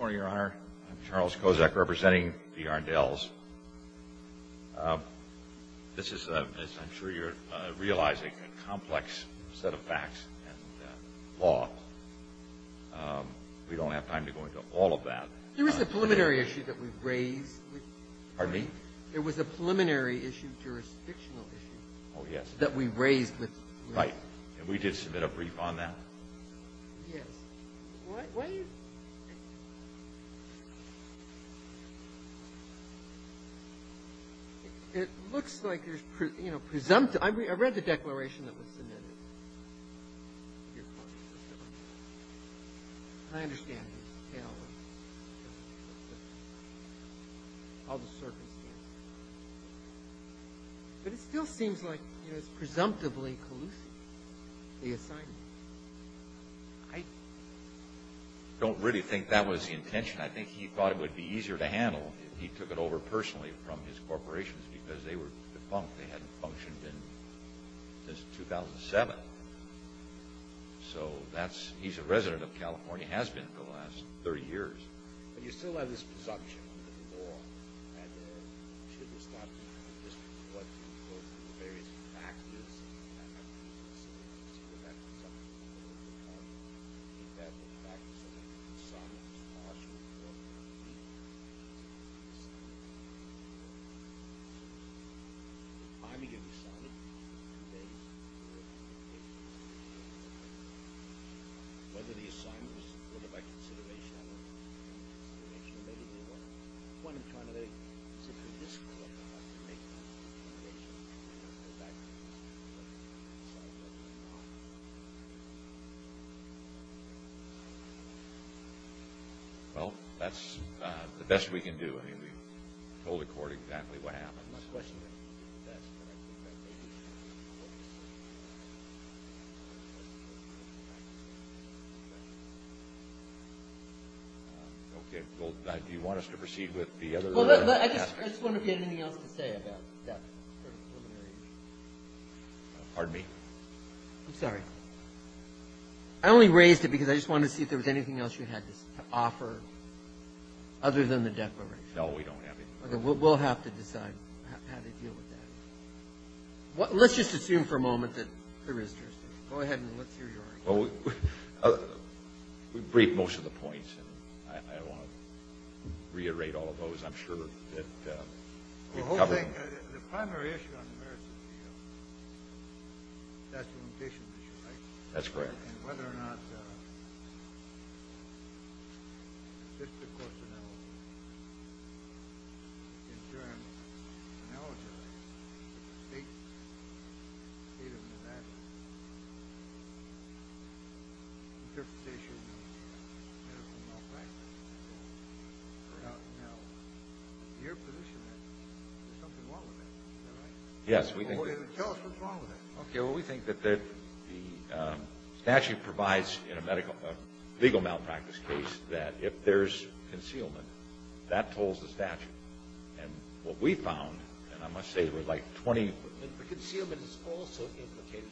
I'm Charles Kozak representing the Arndells. This is, I'm sure you're realizing, a complex set of facts and law. We don't have time to go into all of that. There was a preliminary issue that we raised with Pardon me? There was a preliminary issue, jurisdictional issue Oh yes. That we raised with Right. And we did submit a brief on that. Yes. Why are you It looks like there's, you know, presumptive. I read the declaration that was submitted. I understand the detail. All the circumstances. But it still seems like, you know, it's presumptively collusive, the assignment. I don't really think that was the intention. I think he thought it would be easier to handle if he took it over personally from his corporations because they were defunct. They hadn't functioned since 2007. So that's, he's a resident of California, has been for the last 30 years. But you still have this presumption of the law. And should this not be, this what, the various factors. And I think it's interesting to see that that presumption is over the top. The fact that someone can do something that's partial to what the law is. Assignment. The time he gave the assignment, the date, the date. Whether the assignment was put up by consideration or not. Maybe they weren't. When in time did they consider this? Well, that's the best we can do. I mean, we told the court exactly what happened. My question. Do you want us to proceed with the other? I just wonder if you had anything else to say about that preliminary. Pardon me? I'm sorry. I only raised it because I just wanted to see if there was anything else you had to offer. Other than the declaration. No, we don't have anything. We'll have to decide how to deal with that. Let's just assume for a moment that there is. Go ahead and let's hear yours. Well, we've briefed most of the points. And I don't want to reiterate all of those. I'm sure that we've covered them. The primary issue on the merits of the deal, that's the limitation issue, right? That's correct. And whether or not the assistant corporate in terms of the state of the matter, interpretation of the medical malpractice, we're not now in your position that there's something wrong with that. Is that right? Yes. Tell us what's wrong with that. Okay. Well, we think that the statute provides in a legal malpractice case that if there's concealment, that tolls the statute. And what we found, and I must say there were like 20. But concealment is also implicated.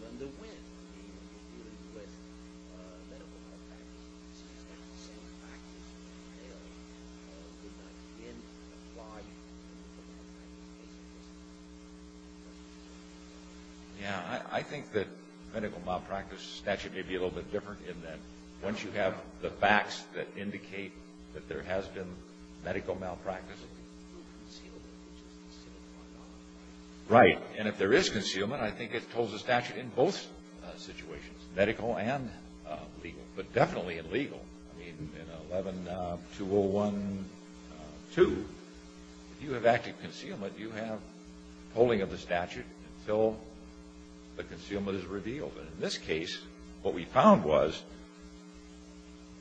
Yeah. I think that medical malpractice statute may be a little bit different in that once you have the facts that indicate that there has been medical malpractice. Right. And if there is concealment, I think it tolls the statute in both situations, medical and legal, but definitely in legal. I mean, in 11-201-2, if you have active concealment, you have tolling of the statute until the concealment is revealed. And in this case, what we found was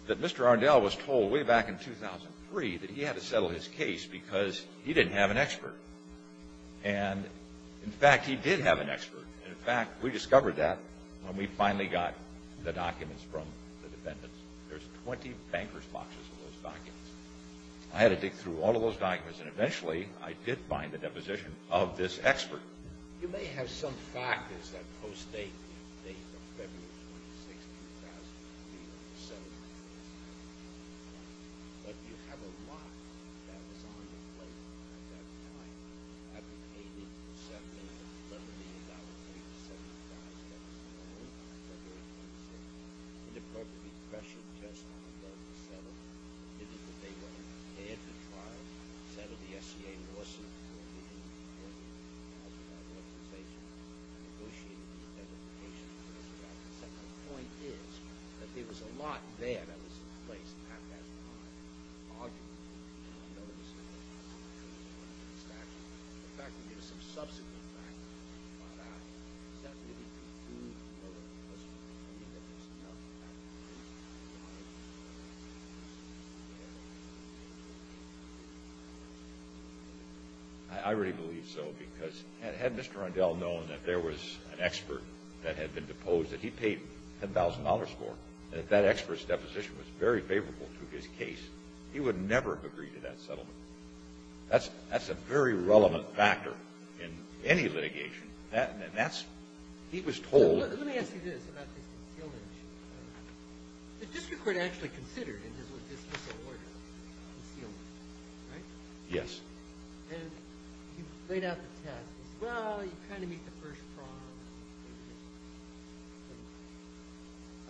that Mr. Arndell was told way back in 2003 that he had to settle his case because he didn't have an expert. And, in fact, he did have an expert. And, in fact, we discovered that when we finally got the documents from the defendants. There's 20 bankers' boxes of those documents. I had to dig through all of those documents, and eventually I did find the deposition of this expert. You may have some factors that postdate the date of February 26, 2000, but you have a lot that was on the plate at that time. I mean, $80 to $70 million, $70 million to $75 million. That was the only time February 26. And, of course, the pressure just on Arndell to settle, meaning that they would hand the trial, settle the SCA lawsuit, and negotiate identification with Mr. Arndell. My second point is that there was a lot there that was in place at that time. Arguably, Arndell was going to have to do with the statute. In fact, there were some subsequent factors that we found out. Does that really conclude the murder of Mr. Arndell? Do you think that there was enough evidence that Arndell was going to have to do with the statute? I really believe so, because had Mr. Arndell known that there was an expert that had been deposed, that he paid $10,000 for, that that expert's deposition was very favorable to his case, he would never have agreed to that settlement. That's a very relevant factor in any litigation. That's – he was told – Let me ask you this about this concealment issue. The district court actually considered it as a dismissal order, the concealment, right? Yes. And he laid out the test. He said, well, you kind of meet the first prong.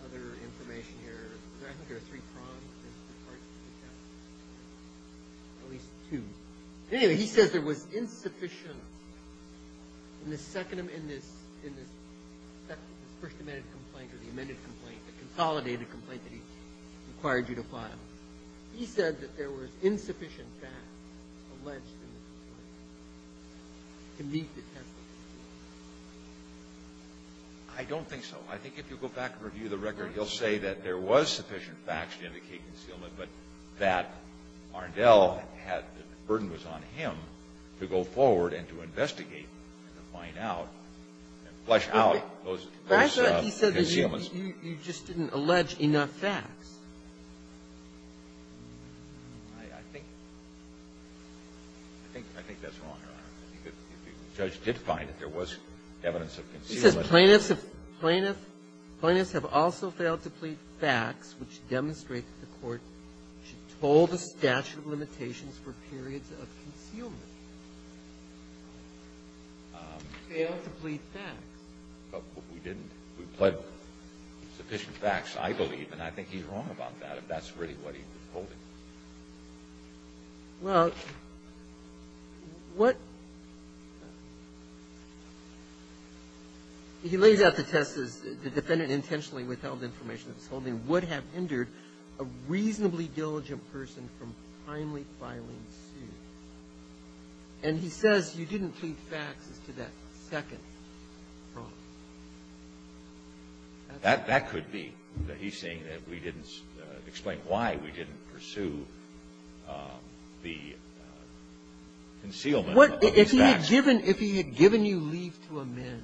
There's some other information here. I think there are three prongs in the parts of the test. At least two. Anyway, he says there was insufficient – in the second – in this first amended complaint or the amended complaint, the consolidated complaint that he required you to file, he said that there was insufficient facts alleged in the complaint to meet the test. I don't think so. I think if you go back and review the record, he'll say that there was sufficient facts to indicate concealment, but that Arndell had – the burden was on him to go forward and to investigate and to find out and flesh out those concealments. But he said that you just didn't allege enough facts. I think – I think that's wrong, Your Honor. I think the judge did find that there was evidence of concealment. He says plaintiffs have – plaintiffs have also failed to plead facts which demonstrate that the court should toll the statute of limitations for periods of concealment. Failed to plead facts. But we didn't. We pled sufficient facts, I believe, and I think he's wrong about that if that's really what he was holding. Well, what – he lays out the test as the defendant intentionally withheld information that was holding would have hindered a reasonably diligent person from finally filing And he says you didn't plead facts as to that second problem. That could be. He's saying that we didn't – explain why we didn't pursue the concealment of those facts. If he had given – if he had given you leave to amend,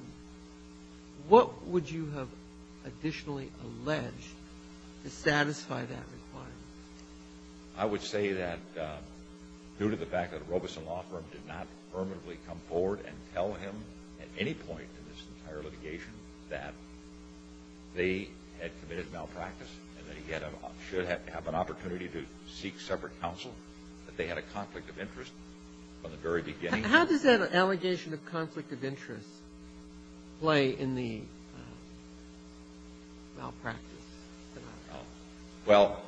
what would you have additionally alleged to satisfy that requirement? I would say that due to the fact that Robeson Law Firm did not permanently come forward and tell him at any point in this entire litigation that they had committed malpractice and that he had a – should have an opportunity to seek separate counsel, that they had a conflict of interest from the very beginning. How does that allegation of conflict of interest play in the malpractice? Well,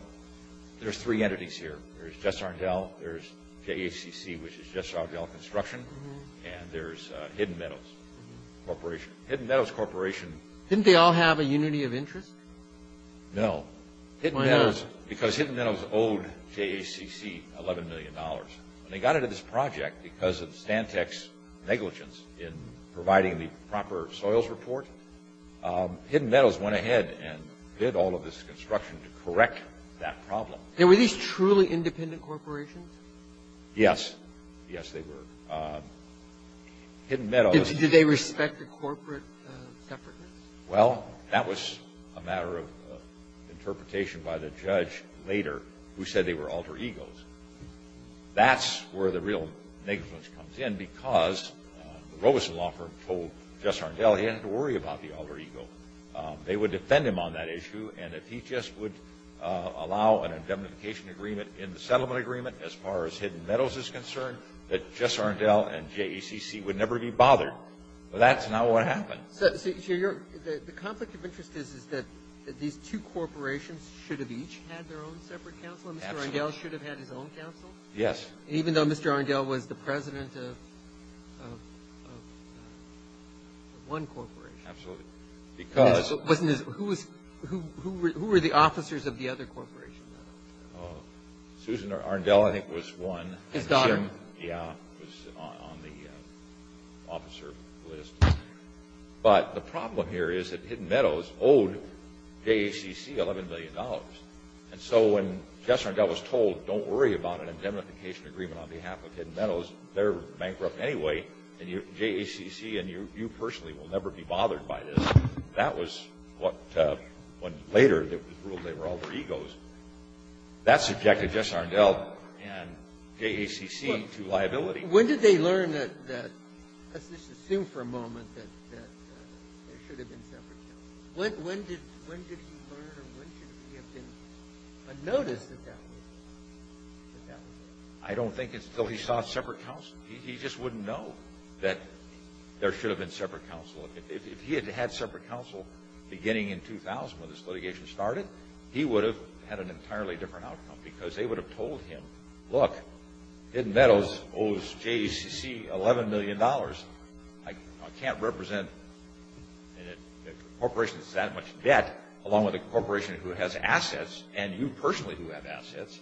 there's three entities here. There's Jessardale, there's JACC, which is Jessardale Construction, and there's Hidden Meadows Corporation. Hidden Meadows Corporation – Didn't they all have a unity of interest? No. Why not? Hidden Meadows – because Hidden Meadows owed JACC $11 million. When they got into this project, because of Stantec's negligence in providing the proper soils report, Hidden Meadows went ahead and did all of this construction to correct that problem. Were these truly independent corporations? Yes. Yes, they were. Hidden Meadows – Did they respect the corporate effort? Well, that was a matter of interpretation by the judge later, who said they were alter egos. That's where the real negligence comes in, because the Robeson law firm told Jessardale he didn't have to worry about the alter ego. They would defend him on that issue, and if he just would allow an indemnification agreement in the settlement agreement, as far as Hidden Meadows is concerned, that Jessardale and JACC would never be bothered. Well, that's not what happened. So your – the conflict of interest is that these two corporations should have each had their own separate counsel? Absolutely. Arndell should have had his own counsel? Yes. Even though Mr. Arndell was the president of one corporation? Absolutely. Because – Who were the officers of the other corporation? Susan Arndell, I think, was one. His daughter? Yeah, was on the officer list. But the problem here is that Hidden Meadows owed JACC $11 million. And so when Jessardale was told, don't worry about an indemnification agreement on behalf of Hidden Meadows, they're bankrupt anyway, and JACC and you personally will never be bothered by this, that was what – when later it was ruled they were alter egos, that subjected Jessardale and JACC to liability. When did they learn that – let's just assume for a moment that there should have been separate counsel. When did he learn or when did he have been unnoticed that that was the case? I don't think it's until he saw separate counsel. He just wouldn't know that there should have been separate counsel. If he had had separate counsel beginning in 2000 when this litigation started, he would have had an entirely different outcome because they would have told him, look, Hidden Meadows owes JACC $11 million. I can't represent a corporation that's in that much debt along with a corporation who has assets and you personally who have assets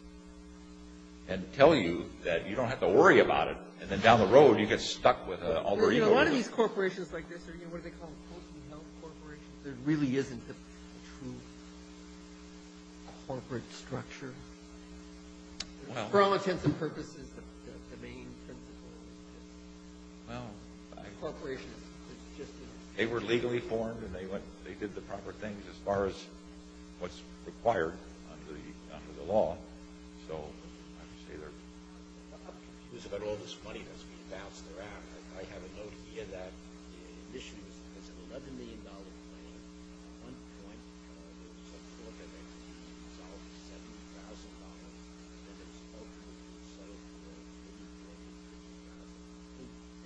and tell you that you don't have to worry about it. And then down the road you get stuck with an alter ego. A lot of these corporations like this are, you know, what do they call them, closely held corporations. There really isn't a true corporate structure. For all intents and purposes, the main principle is that a corporation is just a – They were legally formed and they did the proper things as far as what's required under the law. So I would say they're – I'm confused about all this money that's been bounced around. I have a note here that issues this $11 million claim. At one point, it was a corporate entity that was owed $70,000 and then it was overturned and settled for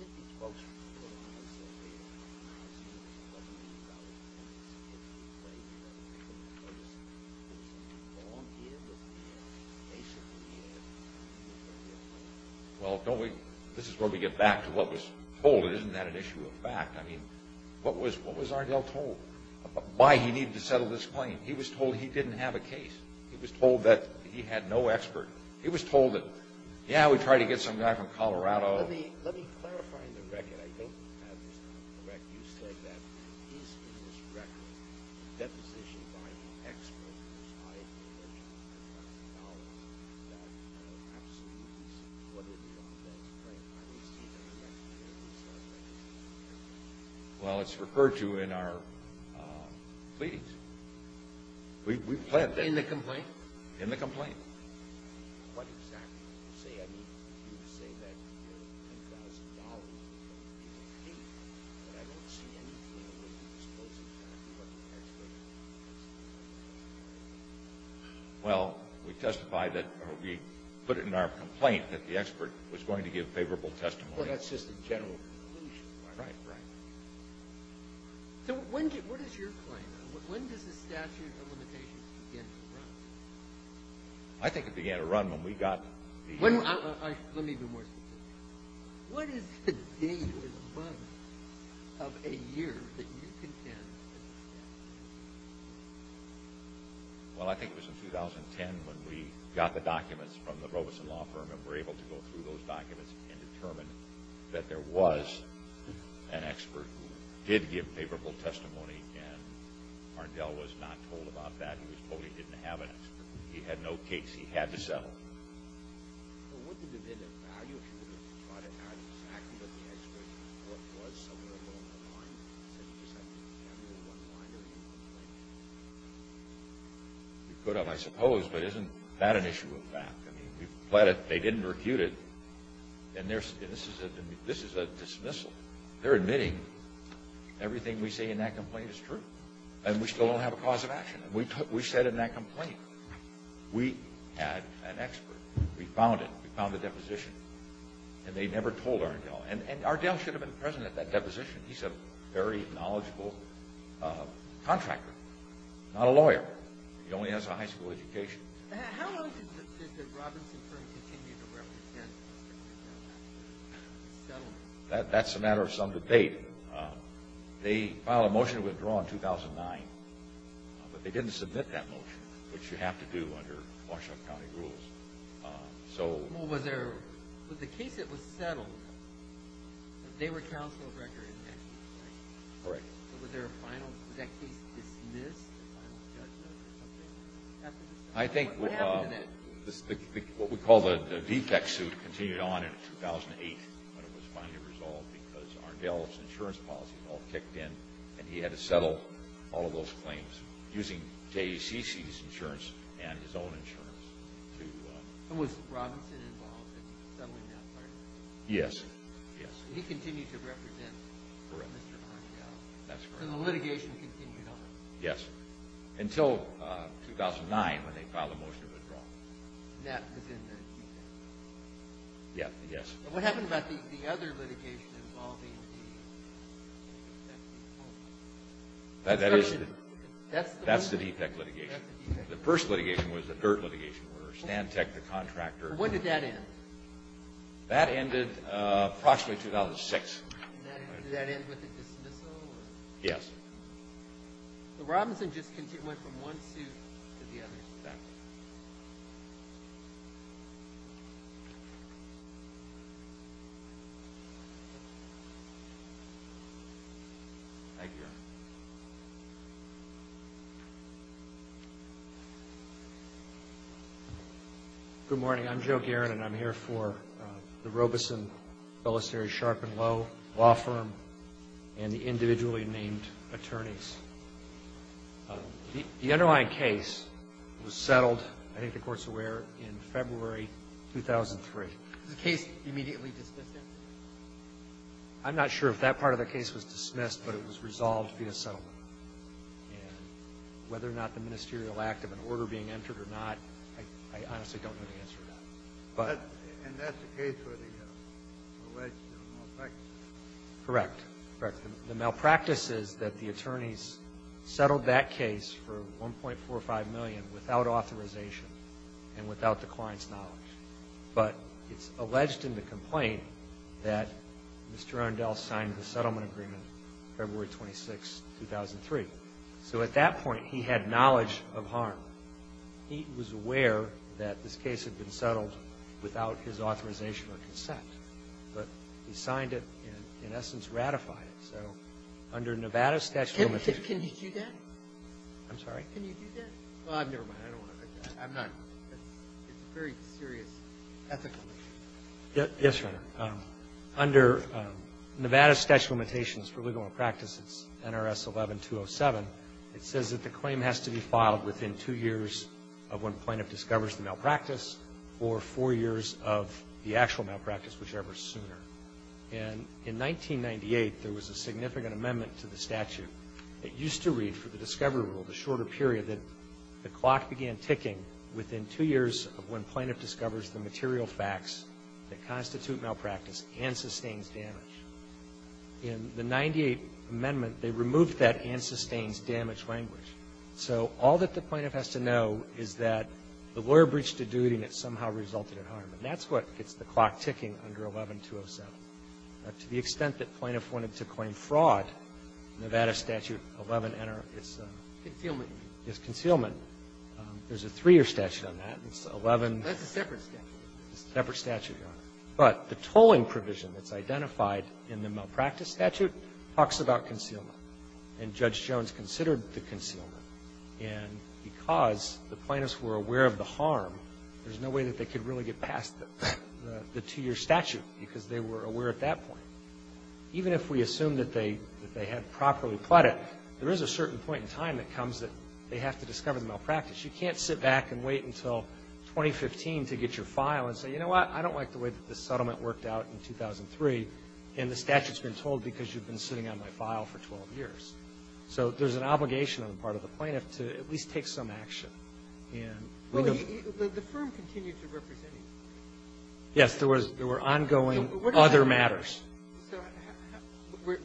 $50,000. Didn't these folks who were put on the side of the aisle ask you what you probably think is a good way for people to put this? Is it too long-handled? Is it too basic-handed? Well, don't we – this is where we get back to what was told. Isn't that an issue of fact? I mean, what was Ardell told? Why he needed to settle this claim? He was told he didn't have a case. He was told that he had no expert. He was told that, yeah, we tried to get some guy from Colorado. Let me clarify the record. I don't have this correct. Well, it's referred to in our pleadings. We've pledged that. In the complaint? In the complaint. What exactly did you say? I mean, you say that $10,000 is a big deal, but I don't see anything that would expose the fact that the expert was going to give favorable testimony. Well, we testified that – we put it in our complaint that the expert was going to give favorable testimony. Well, that's just the general conclusion. Right, right. So what is your claim? When does the statute of limitations begin to run? I think it began to run when we got the – Let me be more specific. What is the date or the month of a year that you contend that it began to run? Well, I think it was in 2010 when we got the documents from the Robeson Law Firm and were able to go through those documents and determine that there was an expert who did give favorable testimony, and Arndell was not told about that. He was told he didn't have an expert. He had no case. He had to settle. Well, wouldn't it have been a value issue to try to have exactly what the expert thought was somewhere along the line, instead of just having one line or a complaint? You could have, I suppose, but isn't that an issue of fact? I mean, we've pled it. They didn't recute it. And this is a dismissal. They're admitting everything we say in that complaint is true, and we still don't have a cause of action. We said in that complaint we had an expert. We found it. We found the deposition. And they never told Arndell. And Arndell should have been present at that deposition. He's a very knowledgeable contractor, not a lawyer. He only has a high school education. How long did the Robeson Firm continue to represent Mr. McNamara? It was settled. That's a matter of some debate. They filed a motion to withdraw in 2009, but they didn't submit that motion, which you have to do under Washtenaw County rules. Was the case that was settled, they were counsel of record in that case, right? Correct. Was that case dismissed? I think what we call the defect suit continued on in 2008 when it was finally resolved because Arndell's insurance policy all kicked in and he had to settle all of those claims using JCC's insurance and his own insurance. Was Robinson involved in settling that part? Yes. He continued to represent Mr. Arndell? Correct. And the litigation continued on? Yes, until 2009 when they filed a motion to withdraw. That was in the defect? Yes. What happened about the other litigation involving the defect? That's the defect litigation. The first litigation was the dirt litigation where Stantec, the contractor. When did that end? That ended approximately 2006. Did that end with the dismissal? Yes. So Robinson just went from one suit to the other? Yes. Thank you. Good morning. I'm Joe Guerin and I'm here for the Robeson Felicity Sharpen Law Firm and the individually named attorneys. The underlying case was settled, I think the Court's aware, in February 2003. Was the case immediately dismissed then? I'm not sure if that part of the case was dismissed, but it was resolved via settlement. And whether or not the ministerial act of an order being entered or not, I honestly don't know the answer to that. And that's the case where the legislature was elected? Correct. Correct. The malpractice is that the attorneys settled that case for $1.45 million without authorization and without the client's knowledge. But it's alleged in the complaint that Mr. Rondell signed the settlement agreement February 26, 2003. So at that point, he had knowledge of harm. He was aware that this case had been settled without his authorization or consent. But he signed it and, in essence, ratified it. So under Nevada statute of limitations. Can you do that? I'm sorry? Can you do that? Well, never mind. I'm not going to. It's a very serious ethical issue. Yes, Your Honor. Under Nevada statute of limitations for legal malpractice, it's NRS 11-207. It says that the claim has to be filed within two years of when plaintiff discovers the malpractice or four years of the actual malpractice, whichever is sooner. And in 1998, there was a significant amendment to the statute that used to read for the discovery rule, the shorter period, that the clock began ticking within two years of when plaintiff discovers the material facts that constitute malpractice and sustains damage. In the 98th amendment, they removed that and sustains damage language. So all that the plaintiff has to know is that the lawyer breached a duty and it somehow resulted in harm. And that's what gets the clock ticking under 11-207. To the extent that plaintiff wanted to claim fraud, Nevada statute 11NR is a concealment. There's a three-year statute on that. It's 11. That's a separate statute. It's a separate statute, Your Honor. But the tolling provision that's identified in the malpractice statute talks about concealment. And Judge Jones considered the concealment. And because the plaintiffs were aware of the harm, there's no way that they could really get past the two-year statute because they were aware at that point. Even if we assume that they had properly pled it, there is a certain point in time that comes that they have to discover the malpractice. You can't sit back and wait until 2015 to get your file and say, you know what, I don't like the way that this settlement worked out in 2003, and the statute's been told because you've been sitting on my file for 12 years. So there's an obligation on the part of the plaintiff to at least take some action. And we don't ---- The firm continued to represent you. Yes. There was ongoing other matters. So was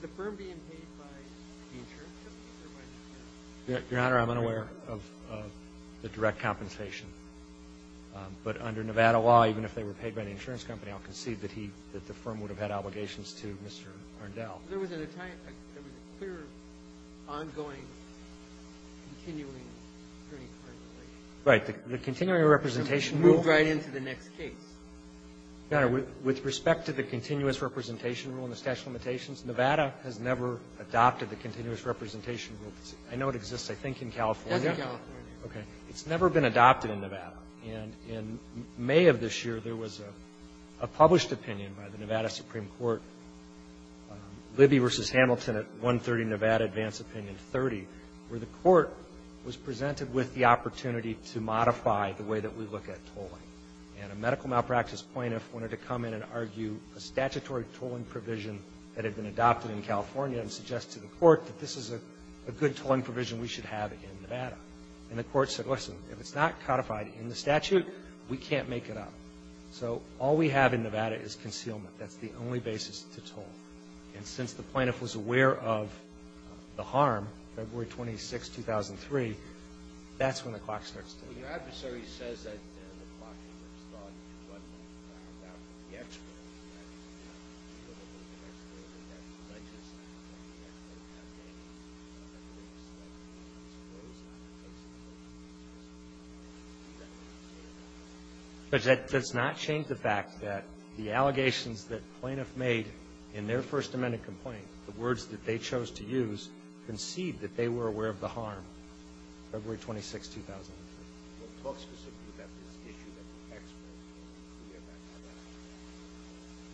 the firm being paid by the insurance company or by Nevada? Your Honor, I'm unaware of the direct compensation. But under Nevada law, even if they were paid by the insurance company, I'll concede that he ---- that the firm would have had obligations to Mr. Arndell. There was a clear, ongoing, continuing turning point. Right. The continuing representation rule ---- It moved right into the next case. Your Honor, with respect to the continuous representation rule and the statute of limitations, Nevada has never adopted the continuous representation rule. I know it exists, I think, in California. It's in California. It's never been adopted in Nevada. And in May of this year, there was a published opinion by the Nevada Supreme Court, Libby v. Hamilton at 130 Nevada, Advanced Opinion 30, where the court was presented with the opportunity to modify the way that we look at tolling. And a medical malpractice plaintiff wanted to come in and argue a statutory tolling provision that had been adopted in California and suggest to the court that this is a good tolling provision we should have in Nevada. And the court said, listen, if it's not codified in the statute, we can't make it up. So all we have in Nevada is concealment. That's the only basis to toll. And since the plaintiff was aware of the harm, February 26, 2003, that's when the clock starts ticking. Judge, that does not change the fact that the allegations that the plaintiff made in their First Amendment complaint, the words that they chose to use, concede that they were aware of the harm, February 26, 2003.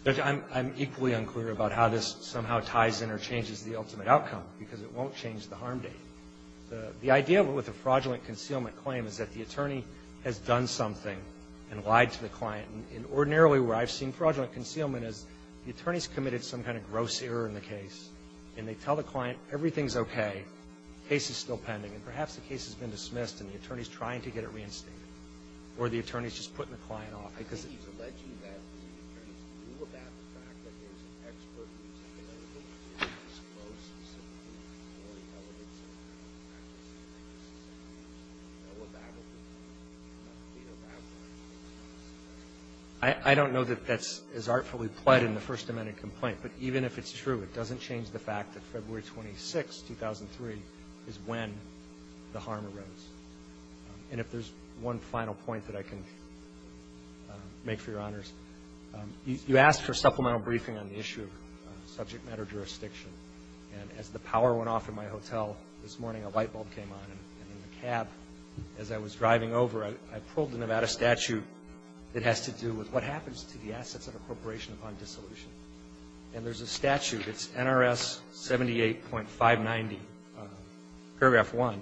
Judge, I'm equally unclear about how this somehow ties in or changes the ultimate outcome, because it won't change the harm date. The idea with a fraudulent concealment claim is that the attorney has done something and lied to the client. And ordinarily where I've seen fraudulent concealment is the attorney's committed some kind of gross error in the case, and they tell the client everything's okay, the case is still pending, and perhaps the case has been dismissed and the attorney's trying to get it reinstated. Or the attorney's just putting the client off. I don't know that that's as artfully pled in the First Amendment complaint. But even if it's true, it doesn't change the fact that February 26, 2003, is when the harm arose. And if there's one final point that I can make for your honors, you asked for a supplemental briefing on the issue of subject matter jurisdiction. And as the power went off in my hotel this morning, a light bulb came on, and in the cab as I was driving over, I pulled the Nevada statute that has to do with what happens to the assets of a corporation upon dissolution. And there's a statute, it's NRS 78.590, Paragraph 1.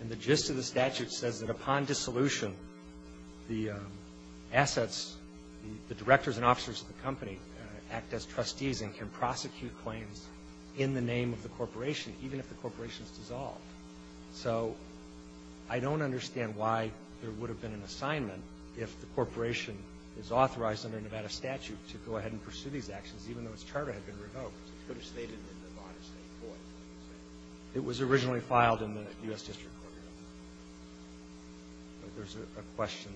And the gist of the statute says that upon dissolution, the assets, the directors and officers of the company act as trustees and can prosecute claims in the name of the corporation, even if the corporation is dissolved. So I don't understand why there would have been an assignment if the corporation is authorized under Nevada statute to go ahead and pursue these actions, even though its charter had been revoked. It could have stayed in the Nevada state court. It was originally filed in the U.S. District Court. There's a question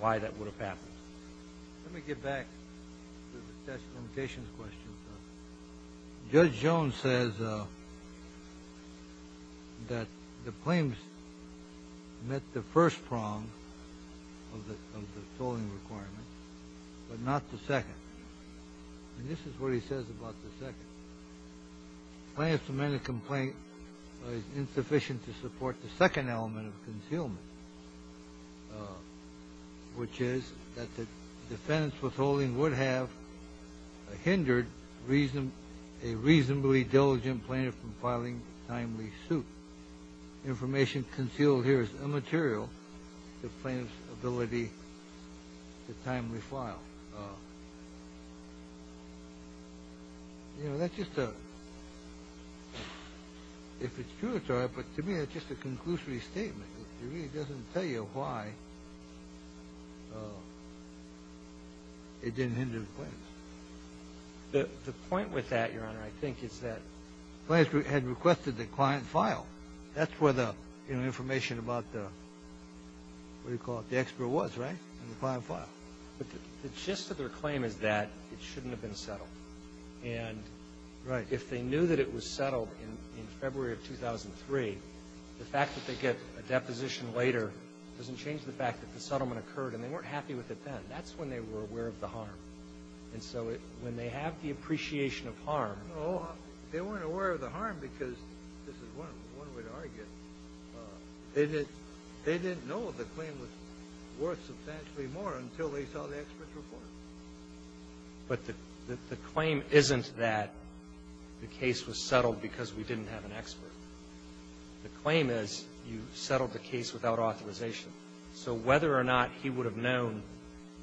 why that would have happened. Let me get back to the statute of limitations question. Judge Jones says that the claims met the first prong of the tolling requirement, but not the second. And this is what he says about the second. Plaintiff's lamented complaint is insufficient to support the second element of concealment, which is that the defendant's withholding would have hindered a reasonably diligent plaintiff from filing a timely suit. Information concealed here is immaterial to plaintiff's ability to timely file. You know, that's just a – if it's true, it's all right, but to me that's just a conclusory statement. It really doesn't tell you why it didn't hinder the claims. The point with that, Your Honor, I think is that – the plaintiff had requested the client file. That's where the information about the – what do you call it? The expert was, right? In the client file. But the gist of their claim is that it shouldn't have been settled. And if they knew that it was settled in February of 2003, the fact that they get a deposition later doesn't change the fact that the settlement occurred and they weren't happy with it then. That's when they were aware of the harm. And so when they have the appreciation of harm – No, they weren't aware of the harm because, this is one way to argue it, they didn't know the claim was worth substantially more until they saw the expert's report. But the claim isn't that the case was settled because we didn't have an expert. The claim is you settled the case without authorization. So whether or not he would have known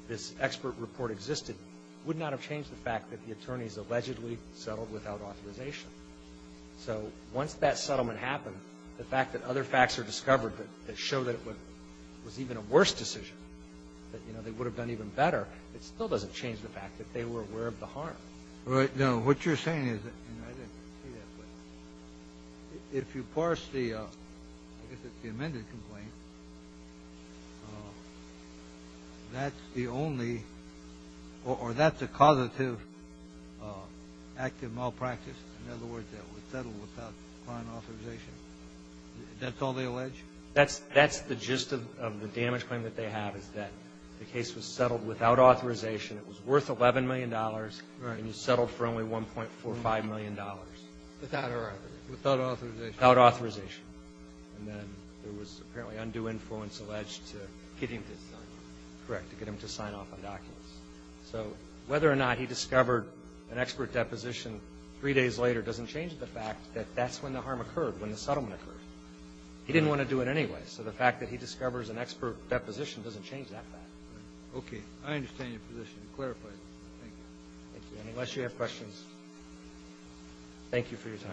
this expert report existed would not have changed the fact that the attorneys allegedly settled without authorization. So once that settlement happened, the fact that other facts are discovered that show that it was even a worse decision, that, you know, they would have done even better, it still doesn't change the fact that they were aware of the harm. Right. Now, what you're saying is that, you know, I didn't say that, but if you parse the amended complaint, that's the only – or that's a causative active malpractice. In other words, it was settled without client authorization. That's all they allege? That's the gist of the damage claim that they have is that the case was settled without authorization. It was worth $11 million. Right. And you settled for only $1.45 million. Without authorization. Without authorization. And then there was apparently undue influence alleged to get him to sign off. Correct, to get him to sign off on documents. So whether or not he discovered an expert deposition three days later doesn't change the fact that that's when the harm occurred, when the settlement occurred. He didn't want to do it anyway, so the fact that he discovers an expert deposition doesn't change that fact. Okay. I understand your position and clarify it. Thank you. And unless you have questions, thank you for your time.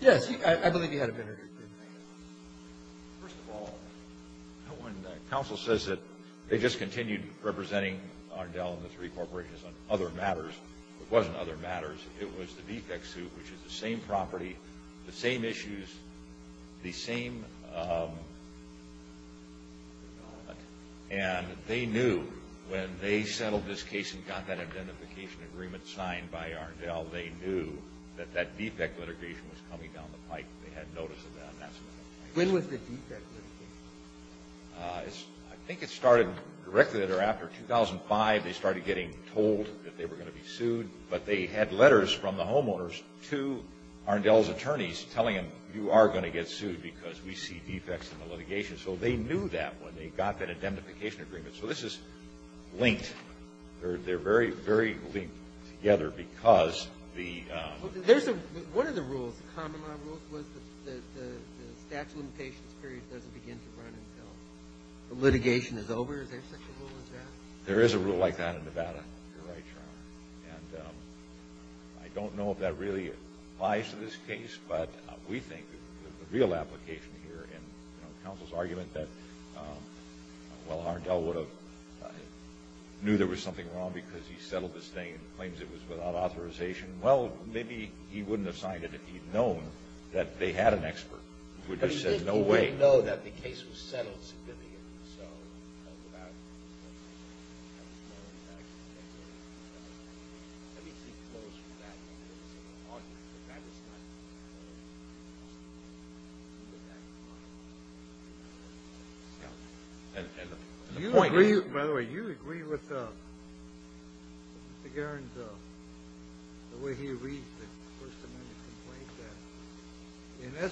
Thank you. Yes, I believe you had a minute or two. First of all, when counsel says that they just continued representing Ardell and the three corporations on other matters, it wasn't other matters. It was the defects suit, which is the same property, the same issues, the same development. And they knew when they settled this case and got that identification agreement signed by Ardell, they knew that that defect litigation was coming down the pipe. They had notice of that. When was the defect litigation? I think it started directly after 2005. They started getting told that they were going to be sued, but they had letters from the homeowners to Ardell's attorneys telling them, you are going to get sued because we see defects in the litigation. So they knew that when they got that identification agreement. So this is linked. They're very, very linked together because the ---- One of the rules, common law rules, was that the statute of limitations period doesn't begin to run until the litigation is over. Is there such a rule in Texas? There is a rule like that in Nevada. You're right, Your Honor. And I don't know if that really applies to this case, but we think that the real application here in counsel's argument that, well, Ardell would have knew there was something wrong because he settled this thing and claims it was without authorization. Well, maybe he wouldn't have signed it if he'd known that they had an expert. He would have said, no way. But he didn't know that the case was settled significantly. So I don't know about that. I don't know if that actually exists. Let me see close from that. Maybe there's some argument for that as well. I don't know. It's a little bit back and forth. And the point is ---- By the way, you agree with Mr. Guerin's, the way he reads the First Amendment complaint that, in essence,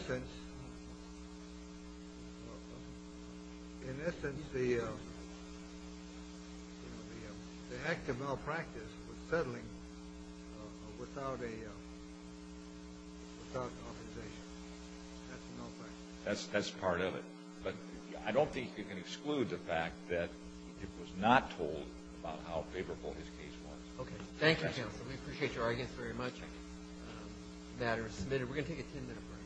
in essence, the act of malpractice was settling without authorization. That's malpractice. That's part of it. But I don't think you can exclude the fact that it was not told about how favorable his case was. Okay. Thank you, counsel. We appreciate your arguments very much. Thank you. The matter is submitted. We're going to take a ten-minute break.